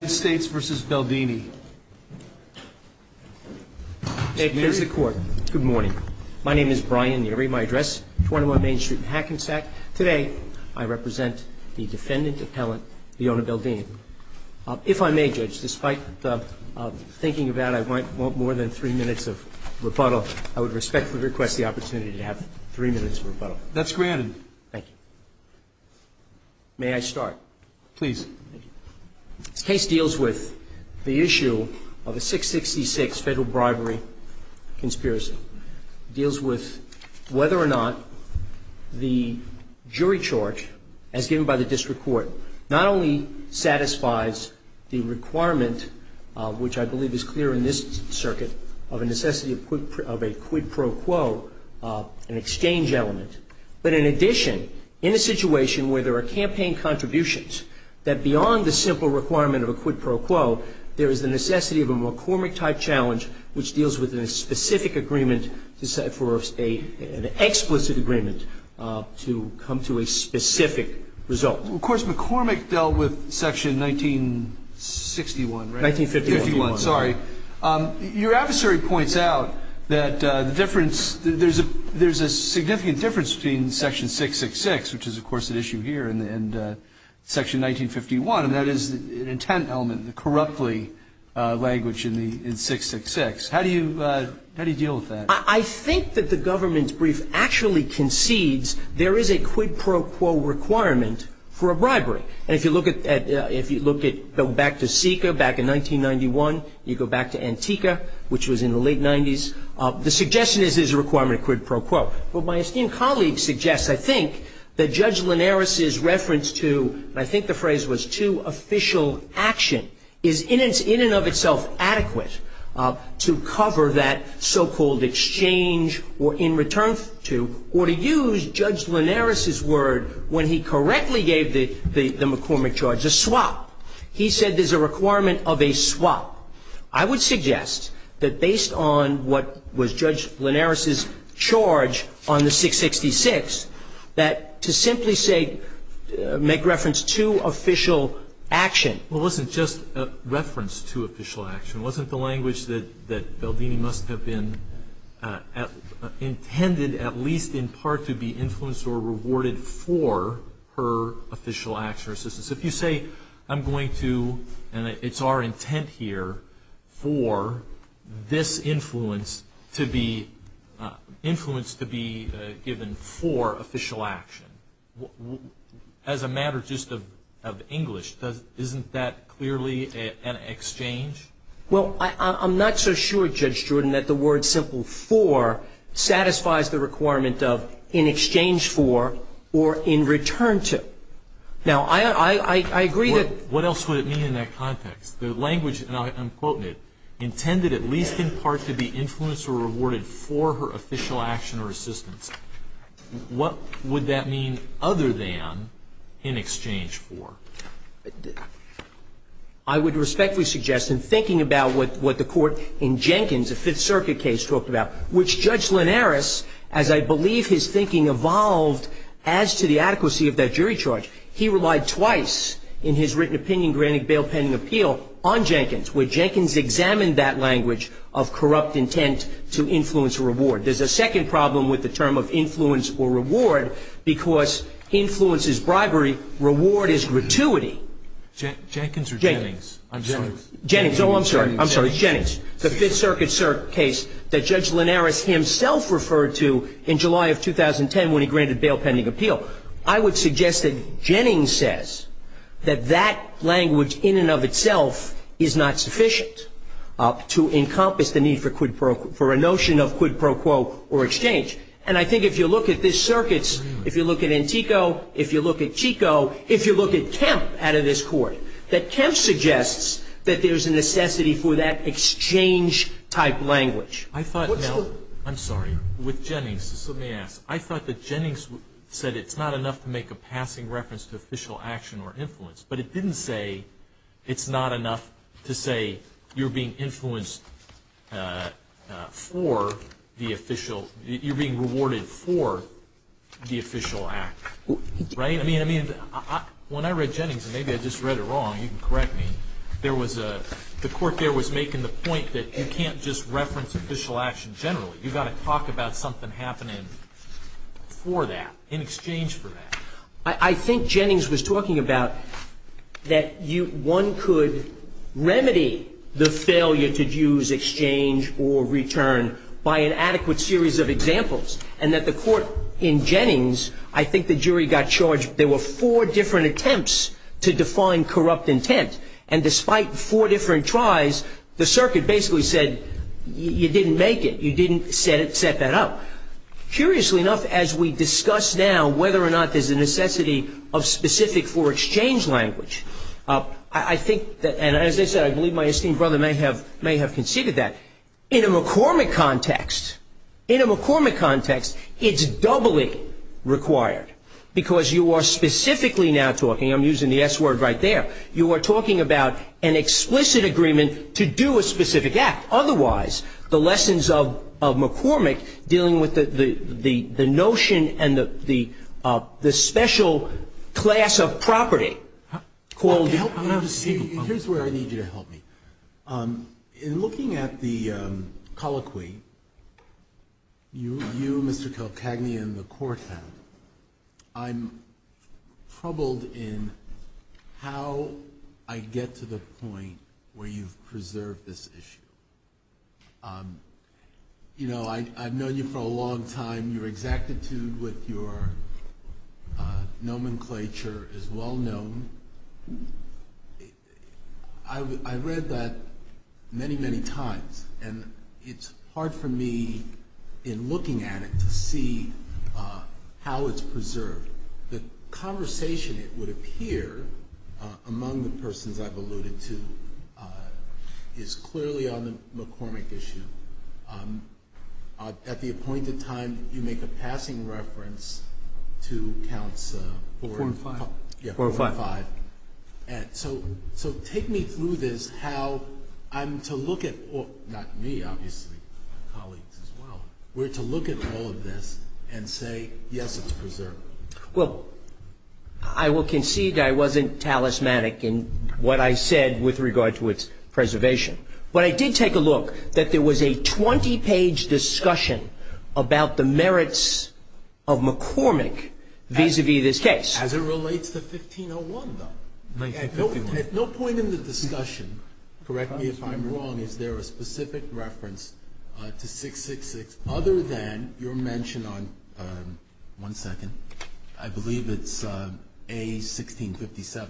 Good morning. My name is Brian Neary. My address, 21 Main Street in Hackensack. Today, I represent the defendant appellant, Leona Beldini. If I may, Judge, despite the thinking of that, I want more than three minutes of rebuttal. I would respectfully request the opportunity to have three minutes of rebuttal. That's granted. Thank you. May I start? Please. Thank you. This case deals with the issue of a 666 federal bribery conspiracy. It deals with whether or not the jury charge, as given by the district court, not only satisfies the requirement, which I believe is clear in this circuit, of a necessity of a quid pro quo, an exchange element, but in addition, in a situation where there are campaign contributions, that beyond the simple requirement of a quid pro quo, there is the necessity of a McCormick type challenge, which deals with a specific agreement for an explicit agreement to come to a specific result. Of course, McCormick dealt with section 1961, right? 1951. Sorry. Your adversary points out that the difference, there's a significant difference between section 666, which is, of course, an issue here, and section 1951, and that is an intent element, the corruptly language in 666. How do you deal with that? I think that the government's brief actually concedes there is a quid pro quo requirement for a bribery. And if you look at, if you look at, go back to SICA back in 1991, you go back to Antica, which was in the late 90s, the suggestion is there's a requirement of quid pro quo. What my esteemed colleague suggests, I think, that Judge Linares's reference to, and I think the phrase was to, official action, is in and of itself adequate to cover that so-called exchange or in return to, or to use Judge Linares's word when he correctly gave the McCormick charge, a swap. He said there's a requirement of a swap. I would suggest that based on what was Judge Linares's charge on the 666, that to simply say, make reference to official action. Well, it wasn't just a reference to official action. It wasn't the language that Baldini must have been intended, at least in part, to be influenced or rewarded for her official action or assistance. If you say, I'm going to, and it's our intent here, for this influence to be, influence to be given for official action, as a matter just of English, isn't that clearly an exchange? Well, I'm not so sure, Judge Druden, that the word simple for satisfies the requirement of in exchange for or in return to. Now, I agree that What else would it mean in that context? The language, and I'm quoting it, intended at least in part to be influenced or rewarded for her official action or assistance. What would that mean other than in exchange for? I would respectfully suggest, in thinking about what the court in Jenkins, a Fifth Circuit case, talked about, which Judge Linares, as I believe his thinking evolved as to the adequacy of that jury charge, he relied twice in his written opinion granting bail pending appeal on Jenkins, where Jenkins examined that language of corrupt intent to influence or reward. There's a second problem with the term of influence or reward, because influence is Jenkins or Jennings? Jennings, oh, I'm sorry, Jennings. The Fifth Circuit case that Judge Linares himself referred to in July of 2010 when he granted bail pending appeal. I would suggest that Jennings says that that language in and of itself is not sufficient to encompass the need for a notion of quid pro quo or exchange. And I think if you look at this circuit, if you look at Chico, if you look at Kemp out of this court, that Kemp suggests that there's a necessity for that exchange-type language. I thought, now, I'm sorry, with Jennings, just let me ask, I thought that Jennings said it's not enough to make a passing reference to official action or influence, but it didn't say it's not enough to say you're being influenced for the official, you're being rewarded for the official act, right? I mean, when I read Jennings, and maybe I just read it wrong, you can correct me, there was a, the court there was making the point that you can't just reference official action generally. You've got to talk about something happening for that, in exchange for that. I think Jennings was talking about that one could remedy the failure to use exchange or return by an adequate series of examples, and that the court in Jennings, I think the jury got charged, there were four different attempts to define corrupt intent, and despite four different tries, the circuit basically said you didn't make it, you didn't set that up. Curiously enough, as we discuss now whether or not there's a necessity of specific for exchange language, I think that, and as I said, I believe my esteemed brother may have, may have conceded that, in a McCormick context, in a McCormick context, it's doubly required, because you are specifically now talking, I'm using the S word right there, you are talking about an explicit agreement to do a specific act. Otherwise, the lessons of McCormick dealing with the notion and the special class of property called... Here's where I need you to help me. In looking at the colloquy, you, Mr. Kalkagny, and the court have, I'm troubled in how I get to the point where you've preserved this issue. You know, I've known you for a long time, your exactitude with your nomenclature is well known. I read that many, many times, and it's hard for me in looking at it to see how it's preserved. The conversation, it would appear, among the persons I've alluded to, is clearly on the McCormick issue. At the appointed time, you make a passing reference to counts 4 and 5, and so take me through this, how I'm to look at, not me, obviously, colleagues as well, we're to look at all of this and say, yes, it's preserved. Well, I will concede I wasn't talismanic in what I said with regard to its preservation, but I did take a look that there was a 20-page discussion about the merits of McCormick vis-a-vis this case. As it relates to 1501, though. 1501. At no point in the discussion, correct me if I'm wrong, is there a specific reference to 666 other than your mention on, one second, I believe it's A1657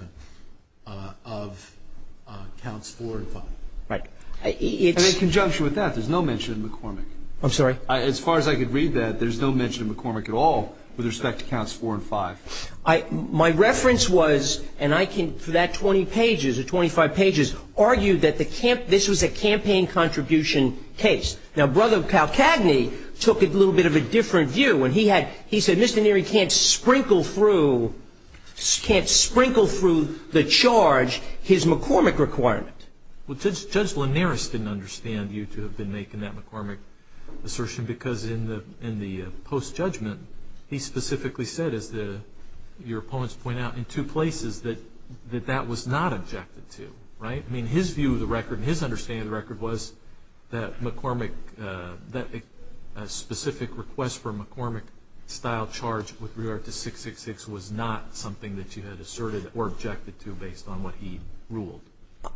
of counts 4 and 5. Right. And in conjunction with that, there's no mention of McCormick. I'm sorry? As far as I could read that, there's no mention of McCormick at all with respect to counts 4 and 5. My reference was, and I can, for that 20 pages or 25 pages, argue that this was a campaign contribution case. Now, Brother Calcagney took it a little bit of a different view when he had, he said, Mr. Neary can't sprinkle through, can't sprinkle through the charge his McCormick requirement. Well, Judge Linares didn't understand you to have been making that McCormick assertion because in the post-judgment, he specifically said, as your opponents point out, in two places that that was not objected to, right? I mean, his view of the record and his understanding of the record was that McCormick, that specific request for a McCormick-style charge with regard to 666 was not something that you had asserted or objected to based on what he ruled.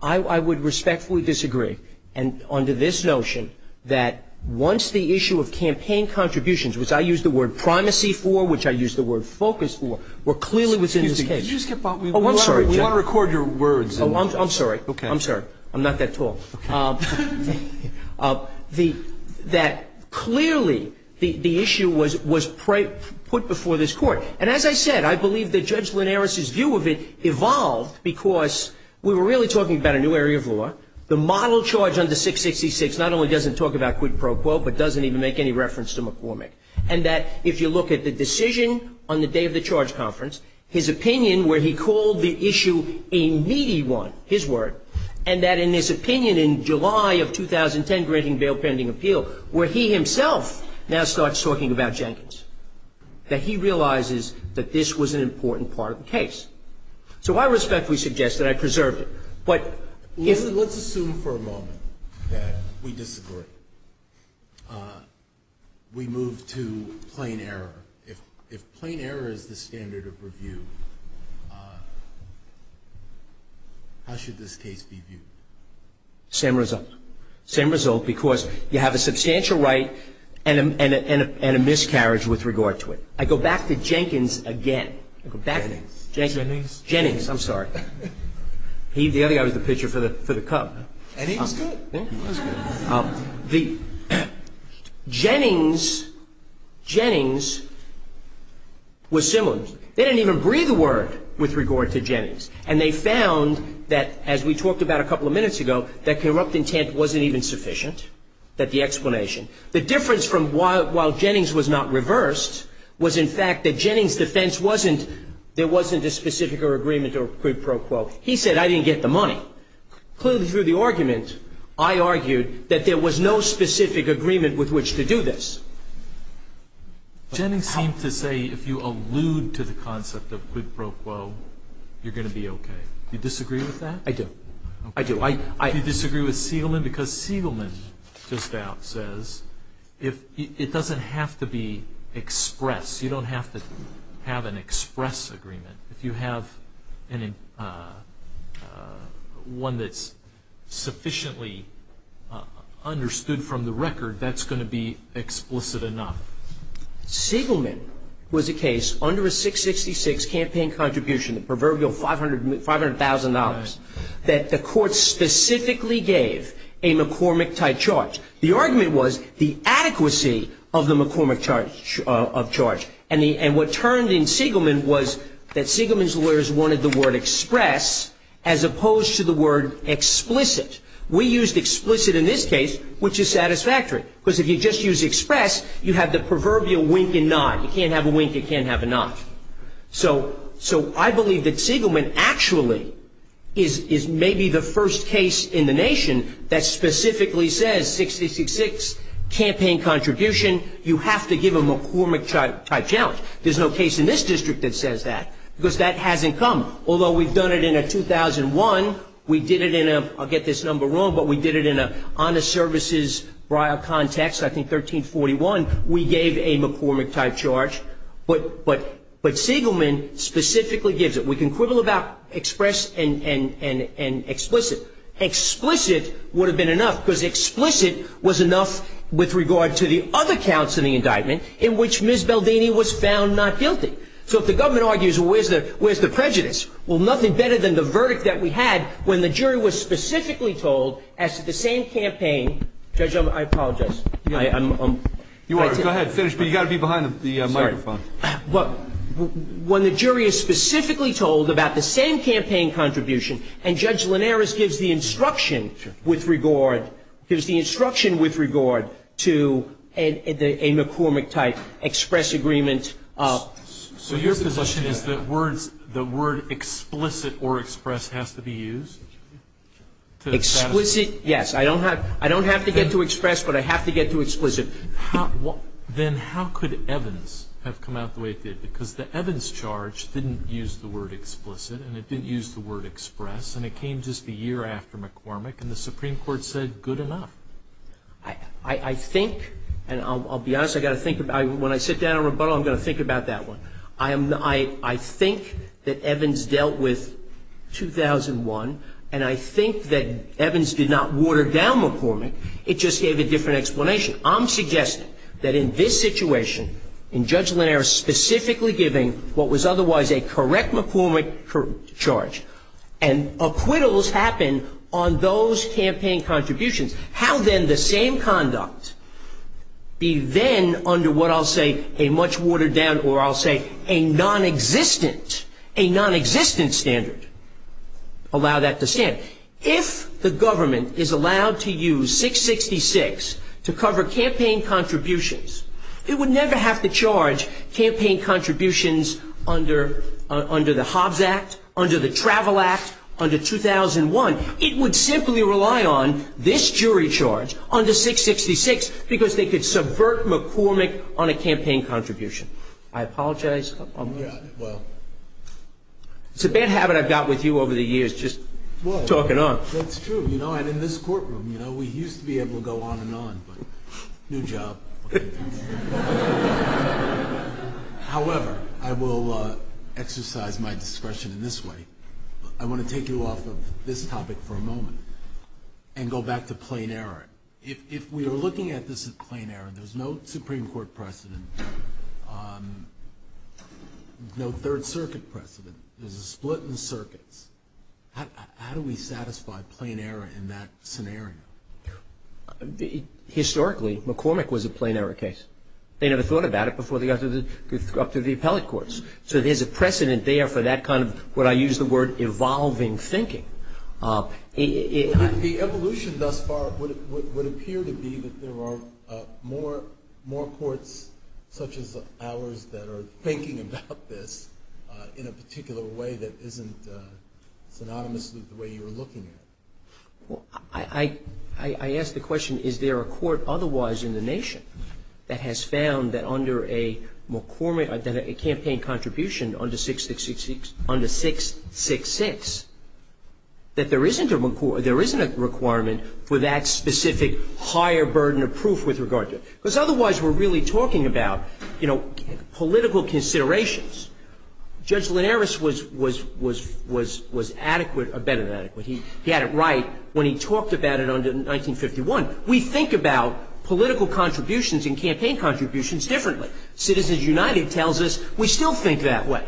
I would respectfully disagree. And under this notion, that once the issue of campaign contributions, which I used the word primacy for, which I used the word focus for, were clearly within this case. Excuse me. Could you just give, we want to record your words. I'm sorry. I'm sorry. I'm not that tall. That clearly the issue was put before this Court. And as I said, I believe that Judge Linares' view of it evolved because we were really talking about a new area of law. The model charge under 666 not only doesn't talk about quid pro quo but doesn't even make any reference to McCormick. And that if you look at the decision on the day of the charge conference, his opinion where he called the issue a meaty one, his word, and that in this opinion in July of 2010 granting bail pending appeal, where he himself now starts talking about Jenkins, that he realizes that this was an important part of the case. So I respectfully suggest that I preserved it. But if you Let's assume for a moment that we disagree. We move to plain error. If plain error is the standard of review, how should this case be viewed? Same result. Same result because you have a substantial right and a miscarriage with regard to it. I go back to Jenkins again. Jennings. Jennings. Jennings. I'm sorry. The other guy was the pitcher for the Cub. And he was good. He was good. The Jennings, Jennings was similar. They didn't even breathe a word with regard to Jennings. And they found that, as we talked about a couple of minutes ago, that corrupt intent wasn't even sufficient, that the explanation. The difference from while Jennings was not reversed was, in fact, that Jennings' defense wasn't, there wasn't a specific agreement or quid pro quo. He said, I didn't get the money. Clearly, through the argument, I argued that there was no specific agreement with which to do this. Jennings seemed to say, if you allude to the concept of quid pro quo, you're going to be OK. You disagree with that? I do. I do. Do you disagree with Siegelman? Because Siegelman just now says, it doesn't have to be express. You don't have to have an express agreement. If you have one that's sufficiently understood from the record, that's going to be explicit enough. Siegelman was a case under a 666 campaign contribution, the proverbial $500,000, that the court specifically gave a McCormick-type charge. The argument was the adequacy of the McCormick charge. And what turned in Siegelman was that Siegelman's lawyers wanted the word express as opposed to the word explicit. We used explicit in this case, which is satisfactory. Because if you just use express, you have the proverbial wink and nod. You can't have a wink, you can't have a nod. So I believe that Siegelman actually is maybe the first case in the nation that specifically says, 666, campaign contribution, you have to give a McCormick-type challenge. There's no case in this district that says that, because that hasn't come. Although we've done it in a 2001, we did it in a, I'll get this number wrong, but we did it in a honest services briar context, I think 1341. We gave a McCormick-type charge, but Siegelman specifically gives it. We can quibble about express and explicit. Explicit would have been enough, because explicit was enough with regard to the other counts in the indictment, in which Ms. Baldini was found not guilty. So if the government argues, well, where's the prejudice? Well, nothing better than the verdict that we had when the jury was specifically told as to the same campaign, Judge, I apologize. I'm- You are, go ahead, finish, but you gotta be behind the microphone. But when the jury is specifically told about the same campaign contribution, and Judge Linares gives the instruction with regard, gives the instruction with regard to a McCormick-type express agreement of- So your position is that words, the word explicit or express has to be used? Explicit, yes. I don't have, I don't have to get to express, but I have to get to explicit. Then how could Evans have come out the way it did? Because the Evans charge didn't use the word explicit, and it didn't use the word express, and it came just a year after McCormick. And the Supreme Court said, good enough. I, I think, and I'll, I'll be honest, I gotta think about it. When I sit down in rebuttal, I'm gonna think about that one. I am, I, I think that Evans dealt with 2001, and I think that Evans did not water down McCormick. It just gave a different explanation. I'm suggesting that in this situation, in Judge Linares specifically giving what was otherwise a correct McCormick charge, and acquittals happen on those campaign contributions. How then the same conduct be then under what I'll say a much watered down, or I'll say a non-existent, a non-existent standard, allow that to stand. If the government is allowed to use 666 to cover campaign contributions, it would never have to charge campaign contributions under, under the Hobbs Act, under the Travel Act, under 2001. It would simply rely on this jury charge under 666, because they could subvert McCormick on a campaign contribution. I apologize. Yeah, well. It's a bad habit I've got with you over the years, just talking on. That's true, you know, and in this courtroom, you know, we used to be able to go on and on, but new job. Okay. However, I will exercise my discretion in this way. I want to take you off of this topic for a moment, and go back to plain error. If, if we are looking at this as plain error, there's no Supreme Court precedent. No third circuit precedent. There's a split in circuits. How, how do we satisfy plain error in that scenario? Historically, McCormick was a plain error case. They never thought about it before they got to the, up to the appellate courts. So there's a precedent there for that kind of, what I use the word, evolving thinking. The evolution thus far would, would, would appear to be that there are more, more courts such as ours that are thinking about this in a particular way that isn't synonymous with the way you were looking at it. I, I, I, I ask the question, is there a court otherwise in the nation that has found that under a McCormick, that a campaign contribution under 666, under 666, that there isn't a McCormick, there isn't a requirement for that specific higher burden of proof with regard to it. Because otherwise we're really talking about, you know, political considerations. Judge Linares was, was, was, was, was adequate, or better than adequate. He had it right when he talked about it under 1951. We think about political contributions and campaign contributions differently. Citizens United tells us we still think that way.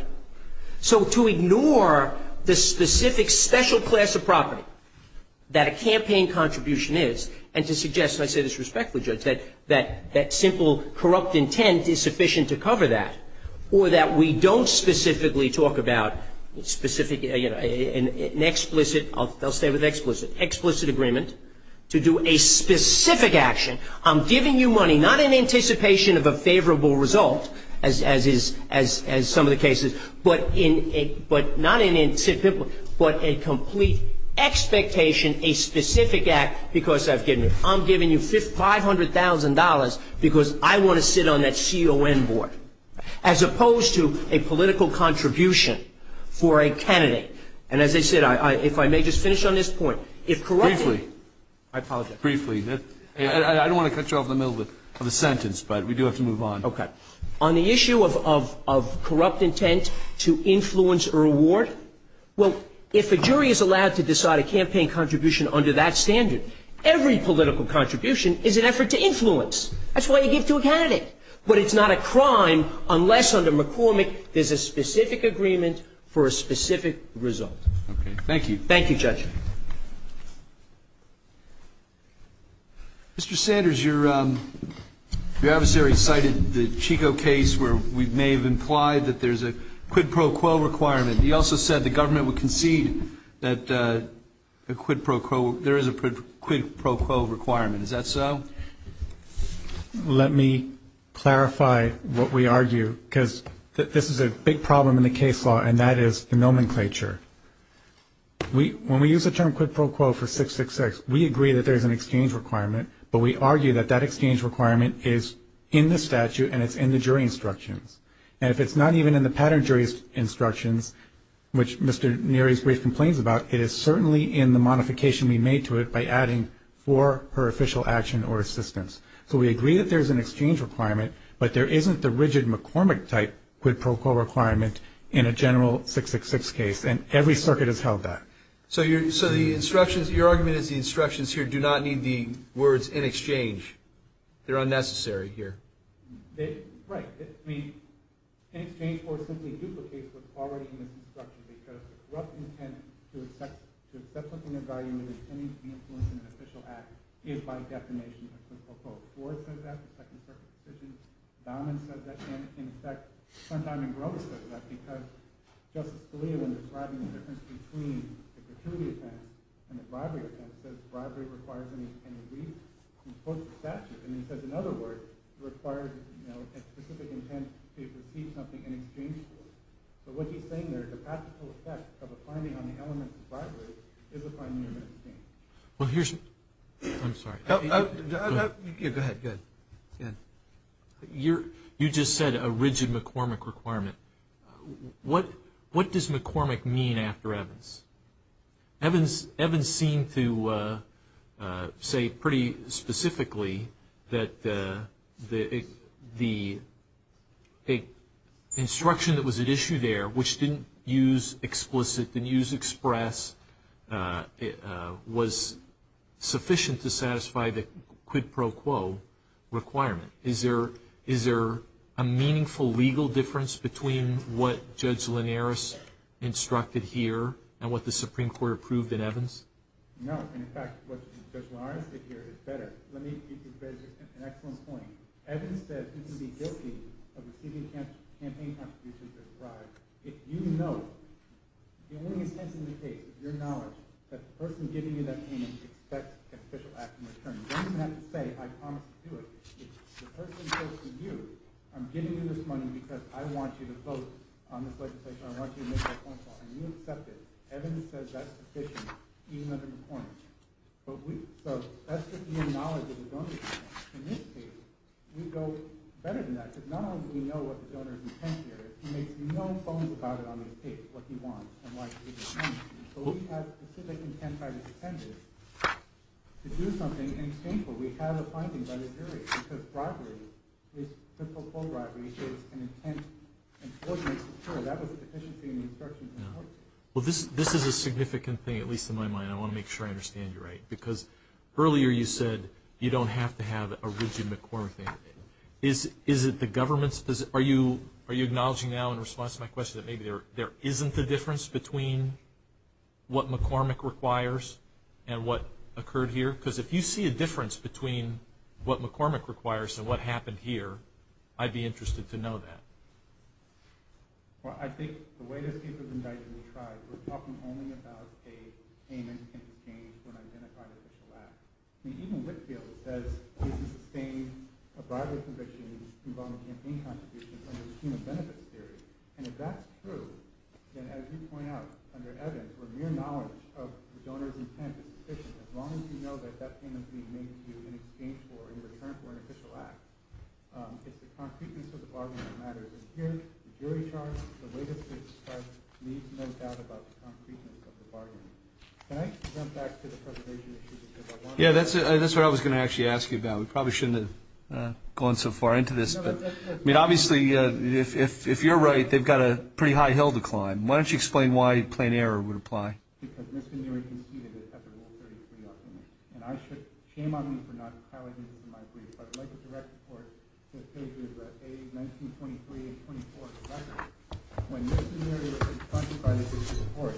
So to ignore the specific special class of property that a campaign contribution is, and to suggest, and I say this respectfully, Judge, that, that, that simple corrupt intent is sufficient to cover that. Or that we don't specifically talk about specific, you know, an, an explicit, I'll, I'll stay with explicit, explicit agreement to do a specific action. I'm giving you money, not in anticipation of a favorable result, as, as is, as, as some of the cases, but in a, but not in a, but a complete expectation, a specific act, because I've given you, I'm giving you $500,000 because I want to sit on that CON board. As opposed to a political contribution for a candidate. And as I said, I, I, if I may just finish on this point. If corrupt. Briefly. I apologize. Briefly. I, I, I don't want to cut you off in the middle of a sentence, but we do have to move on. Okay. On the issue of, of, of corrupt intent to influence or reward. Well, if a jury is allowed to decide a campaign contribution under that standard, every political contribution is an effort to influence. That's why you give to a candidate. But it's not a crime unless under McCormick, there's a specific agreement for a specific result. Okay. Thank you. Thank you, Judge. Mr. Sanders, your your adversary cited the Chico case where we may have implied that there's a quid pro quo requirement. He also said the government would concede that a quid pro quo, there is a quid pro quo requirement. Is that so? Let me clarify what we argue because this is a big problem in the case law and that is the nomenclature. We, when we use the term quid pro quo for 666, we agree that there's an exchange requirement, but we argue that that exchange requirement is in the statute and it's in the jury instructions. And if it's not even in the pattern jury's instructions, which Mr. Neary's brief complains about, it is certainly in the modification we made to it by adding four per official action or assistance. So we agree that there's an exchange requirement, but there isn't the rigid McCormick type quid pro quo requirement in a general 666 case. And every circuit has held that. So you're so the instructions, your argument is the instructions here do not need the words in exchange. They're unnecessary here. Right. I mean, in exchange for simply duplicates what's already in this instruction, because the corrupt intent to accept something of value with any influence in an official act is by definition a quid pro quo. Ford says that, the second circuit's decision. Dahman says that, and in fact, sometime in Groves says that, because Justice Scalia, when describing the difference between the gratuity offense and the bribery offense, says bribery requires an agreement in close to statute. And he says, in other words, it requires a specific intent to receive something in exchange for it. But what he's saying there, the practical effect of a finding on the elements of bribery is a finding of an exchange. Well, here's, I'm sorry. Go ahead, go ahead. You just said a rigid McCormick requirement. What does McCormick mean after Evans? Evans seemed to say pretty specifically that the instruction that was at issue there, which didn't use explicit, didn't use express, was sufficient to satisfy the quid pro quo requirement. Is there a meaningful legal difference between what Judge Linares instructed here and what the Supreme Court approved in Evans? No, and in fact, what Judge Linares did here is better. Let me give you an excellent point. Evans said he's going to be guilty of receiving campaign contributions as a bribe if you know, the only instance in the case, with your knowledge, that the person giving you that payment expects an official act in return. You don't even have to say, I promise to do it. If the person goes to you, I'm giving you this money because I want you to vote on this legislation, I want you to make that point, and you accept it. Evans says that's sufficient, even under McCormick. So that's just your knowledge of the donor's intent. In this case, we go better than that, because not only do we know what the donor's intent here is, he makes no bones about it on this case, what he wants and why he's doing it. But we have specific intent by the defendant to do something and it's painful. We have a finding by the jury because bribery, this quid pro quo bribery, it's an intent and that was deficiency in instruction. Well, this is a significant thing, at least in my mind. I want to make sure I understand you right, because earlier you said you don't have to have a rigid McCormick thing. Is it the government's position? Are you acknowledging now, in response to my question, that maybe there isn't a difference between what McCormick requires and what occurred here? Because if you see a difference between what McCormick requires and what happened here, I'd be interested to know that. Well, I think the way this case was indicted, we tried. We're talking only about a payment in exchange for an identified official act. I mean, even Whitfield says cases sustained a bribery conviction involving campaign contributions under the scheme of benefits theory. And if that's true, then as you point out, under Evans, where mere knowledge of the donor's intent is sufficient, as long as you know that that payment's being made to you in exchange for, in return for, an official act, it's the concreteness of the bargaining that matters. And here, the jury charge, the way this case is described, needs no doubt about the concreteness of the bargaining. Can I jump back to the preservation issue? Yeah, that's what I was going to actually ask you about. We probably shouldn't have gone so far into this. But, I mean, obviously, if you're right, they've got a pretty high hill to climb. Why don't you explain why plain error would apply? Because misdemeanory conceded at the Rule 33 argument. And I should, shame on me for not highlighting this in my brief, but I'd like to direct the court to pages A, 1923, and 24 of the record. When misdemeanory was confronted by the District Court,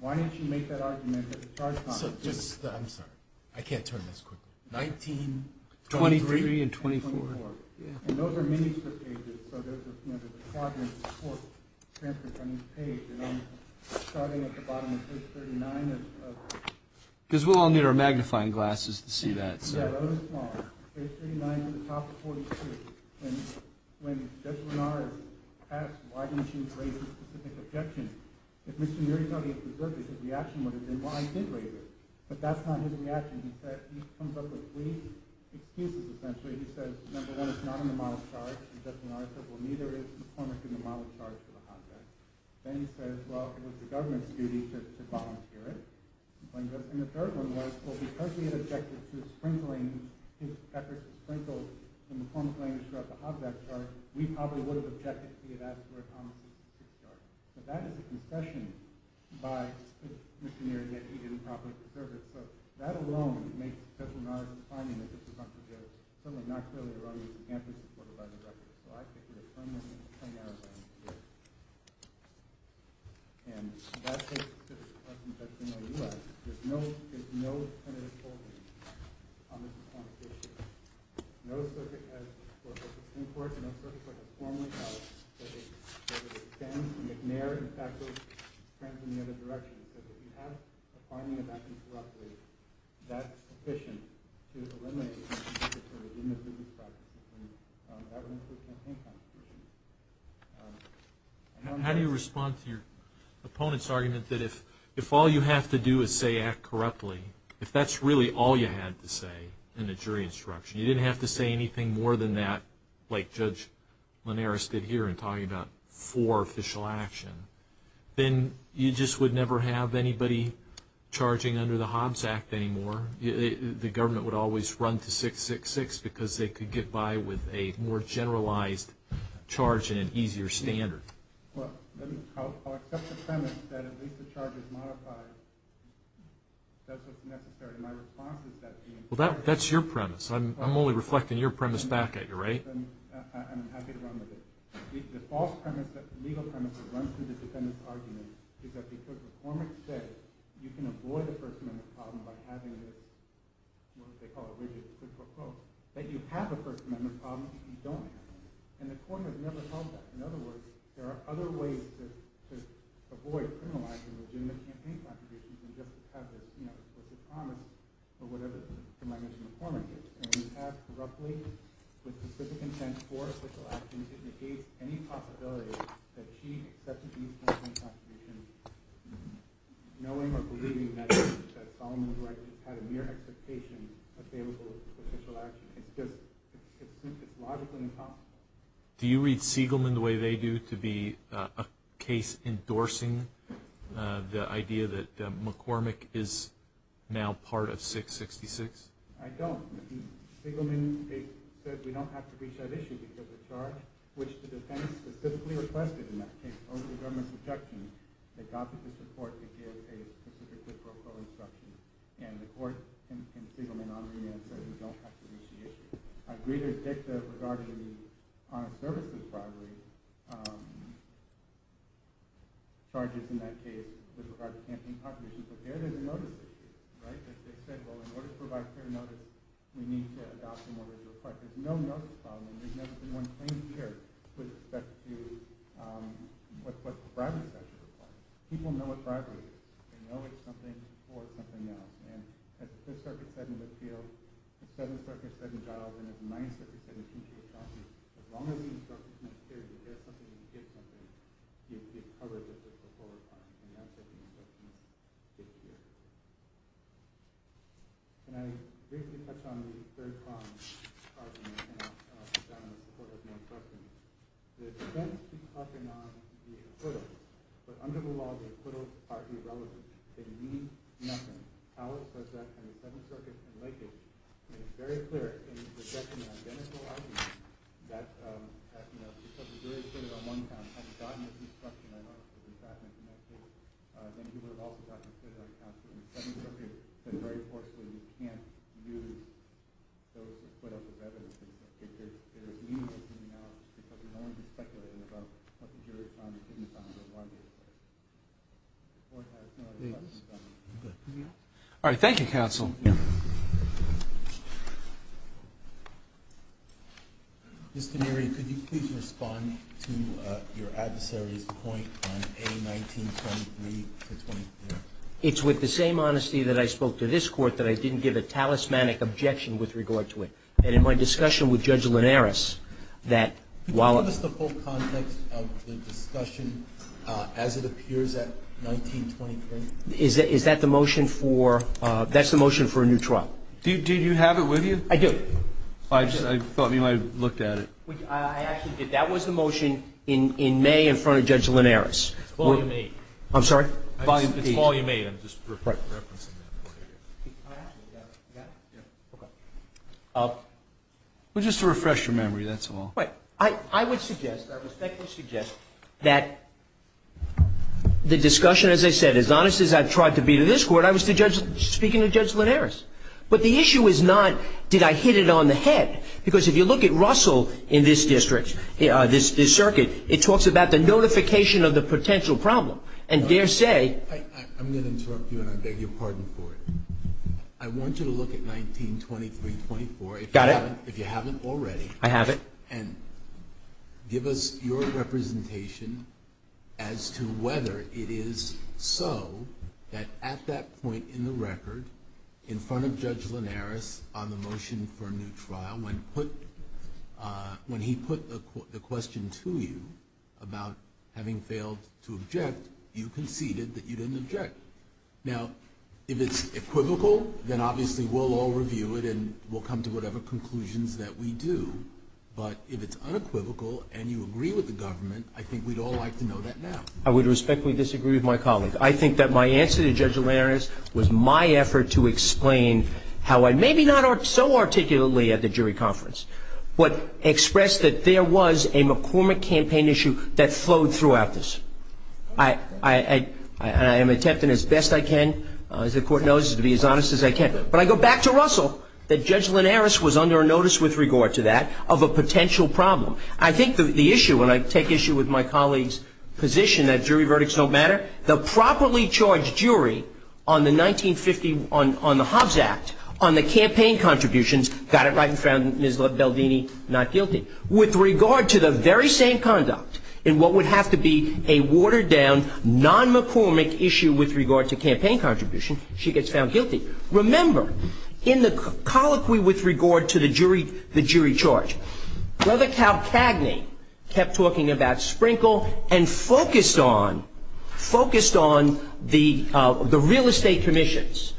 why didn't you make that argument at the charge conference? So just, I'm sorry, I can't turn this quickly. 1923 and 24. And those are minister pages, so there's a quadrant of the court transferred from each page, and I'm starting at the bottom of page 39. Because we'll all need our magnifying glasses to see that. Yeah, that was small. Page 39 to the top of page 42. And when Judge Linaras asked why didn't you raise a specific objection, if misdemeanory is not being preserved, his reaction would have been, well, I did raise it. But that's not his reaction. He comes up with three excuses, essentially. He says, number one, it's not in the model charge, and Judge Linaras said, well, neither is the former in the model charge for the hotbed. Then he says, well, it was the government's duty to volunteer it. And the third one was, well, because he had objected to sprinkling, his efforts sprinkled in the form of language throughout the hotbed charge, we probably would have objected to the adaptive word on the specific charge. But that is a concession by the misdemeanor, yet he didn't properly preserve it. So that alone makes Judge Linaras' finding that this is unproductive, certainly not clearly erroneous, and can't be supported by the record. So I think there's a permanent scenario there. And that's a specific question Judge Linaras asked. There's no tentative holding on this information. No circuit has, for instance, in court, and no circuit has formally held that it extends, that McNair, in fact, was transferring in the other direction. So if you have a finding of that incorruptly, that's sufficient to eliminate the misdemeanor practice. And that would include campaign contributions. How do you respond to your opponent's argument that if all you have to do is say act correctly, if that's really all you had to say in the jury instruction, you didn't have to say anything more than that, like Judge Linaras did here in talking about for official action, then you just would never have anybody charging under the Hobbs Act anymore. The government would always run to 666 because they could get by with a more generalized charge and an easier standard. Well, I'll accept the premise that at least the charge is modified. That's what's necessary. My response is that the... Well, that's your premise. I'm only reflecting your premise back at you, right? I'm happy to run with it. The false premise, the legal premise, that runs through the defendant's argument is that because the former said, you can avoid a First Amendment problem by having this, what do they call it, rigid quid pro quo, that you have a First Amendment problem if you don't have one. And the court has never held that. In other words, there are other ways to avoid criminalizing legitimate campaign contributions than just to have this, you know, with this promise or whatever it is. You might mention the former case. And we have, roughly, with specific intent for official action, it negates any possibility that she accepted these campaign contributions knowing or believing that Solomon Wright had a mere expectation of favorable official action. It's just, it's logically impossible. Do you read Siegelman the way they do to be a case endorsing the idea that McCormick is now part of 666? I don't. Siegelman said we don't have to reach that issue because the charge, which the defense specifically requested in that case over the government's objection, they got the district court to give a specific quid pro quo instruction. And the court in Siegelman on remand said we don't have to reach the issue. I agree with Dick that regarding the honest services bribery charges in that case with regard to campaign contributions. But there, there's a notice issue, right? As Dick said, well, in order to provide fair notice, we need to adopt a more rigid request. There's no notice problem. And there's never been one claimed here with respect to what the bribery statute requires. People know what bribery is. They know it's something or it's something else. And as the 5th Circuit said in Littfield, as 7th Circuit said in Giles, and as the 9th Circuit said in Kinshaw County, as long as the instructor's not carried, if there's something and you get something, you get covered with the quid pro quo requirement. Can I briefly touch on the third problem and put down in support of the instruction. The defense keeps huffing on the acquittals. But under the law, the acquittals are irrelevant. They mean nothing. Howell says that in the 7th Circuit and Lakehead. And it's very clear in his objection to identical arguments that, you know, if somebody's very good at it on one hand and has gotten this instruction, I know this was in fact mentioned in that case, then he would have also gotten good at it on the 7th Circuit but very importantly, you can't use those to put up a reference in the 7th Circuit. There's meaninglessness in the analysis because you're only speculating about what the jury found in Kinshaw County on one basis. The court has no response to that. All right. Thank you, counsel. Mr. Murray, could you please respond to your adversary's point on A1923-2013? It's with the same honesty that I spoke to this court that I didn't give a talismanic objection with regard to it. And in my discussion with Judge Linares, that while... Can you give us the full context of the discussion as it appears at 1923? Is that the motion for... That's the motion for a new trial. Did you have it with you? I did. I thought you might have looked at it. I actually did. That was the motion in May in front of Judge Linares. It's volume eight. I'm sorry? It's volume eight. I'm just referencing that point of view. Oh, actually, you got it? Yeah. Well, just to refresh your memory, that's all. Right. I would suggest, I respectfully suggest, that the discussion, as I said, as honest as I've tried to be to this court, I was speaking to Judge Linares. But the issue is not, did I hit it on the head? Because if you look at Russell in this district, this circuit, it talks about the notification of the potential problem. And dare say... I'm going to interrupt you, and I beg your pardon for it. I want you to look at 1923-24. Got it. If you haven't already. I have it. And give us your representation as to whether it is so that at that point in the record, in front of Judge Linares on the motion for a new trial, when he put the question to you about having failed to object, you conceded that you didn't object. Now, if it's equivocal, then obviously we'll all review it, and we'll come to whatever conclusions that we do. But if it's unequivocal, and you agree with the government, I think we'd all like to know that now. I would respectfully disagree with my colleague. I think that my answer to Judge Linares was my effort to explain how I, maybe not so articulately at the jury conference, but expressed that there was a McCormick campaign issue that flowed throughout this. I am attempting as best I can, as the court knows, to be as honest as I can. But I go back to Russell, that Judge Linares was under a notice with regard to that of a potential problem. I think the issue, when I take issue with my colleague's position that jury verdicts don't matter, the properly charged jury on the 1950, on the Hobbs Act, on the campaign contributions, got it right and found Ms. Beldini not guilty. With regard to the very same conduct in what would have to be a watered down, non-McCormick issue with regard to campaign contribution, she gets found guilty. Remember, in the colloquy with regard to the jury charge, Brother Cal Cagney kept talking about Sprinkle and focused on the real estate commissions.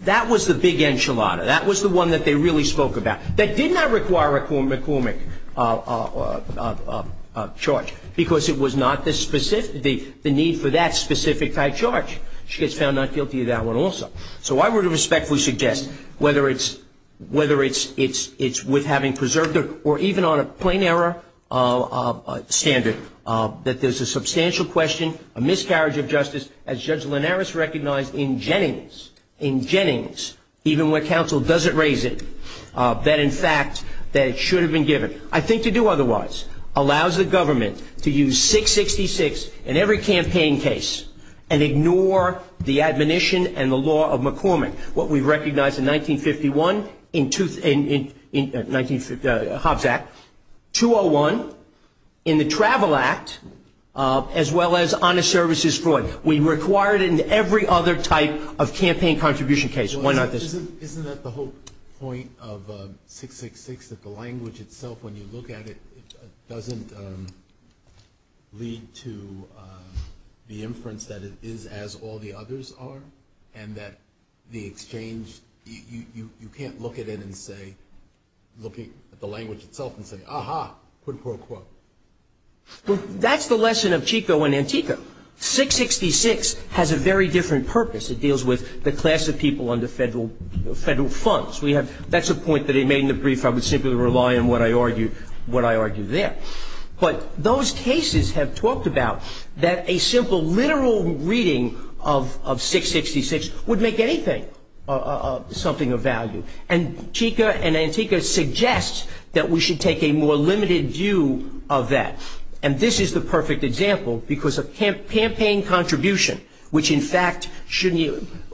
That was the big enchilada. That was the one that they really spoke about. That did not require a McCormick charge because it was not the need for that specific charge. She gets found not guilty of that one also. So I would respectfully suggest, whether it's with having preserved her or even on a plain error standard, that there's a substantial question, a miscarriage of justice, as Judge Linares recognized in Jennings, in Jennings, even when counsel doesn't raise it, that, in fact, that it should have been given. I think to do otherwise allows the government to use 666 in every campaign case and ignore the admonition and the law of McCormick, what we recognized in 1951 in Hobbs Act, 201 in the Travel Act, as well as honest services fraud. We required it in every other type of campaign contribution case. Why not this? Isn't that the whole point of 666, that the language itself, when you look at it, doesn't lead to the inference that it is as all the others are and that the exchange, you can't look at it and say, look at the language itself and say, aha, quid pro quo. That's the lesson of Chico and Antico. 666 has a very different purpose. It deals with the class of people under federal funds. That's a point that I made in the brief. I would simply rely on what I argued there. But those cases have talked about that a simple literal reading of 666 would make anything something of value. And Chico and Antico suggest that we should take a more limited view of that. And this is the perfect example because of campaign contribution, which in fact,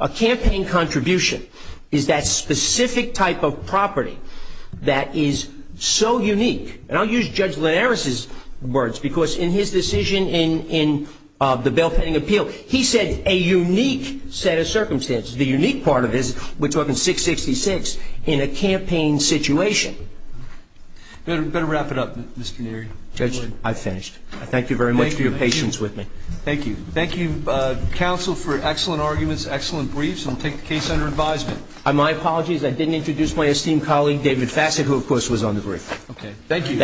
a campaign contribution is that specific type of property that is so unique. And I'll use Judge Linares' words because in his decision in the bail pending appeal, he said a unique set of circumstances. The unique part of this, which was in 666, in a campaign situation. Better wrap it up, Mr. Neary. Judge, I finished. Thank you very much for your patience with me. Thank you. Thank you, Counsel, for excellent arguments, excellent briefs. I'll take the case under advisement. My apologies. I didn't introduce my esteemed colleague, David Fassett, who of course was on the brief. Okay. Thank you.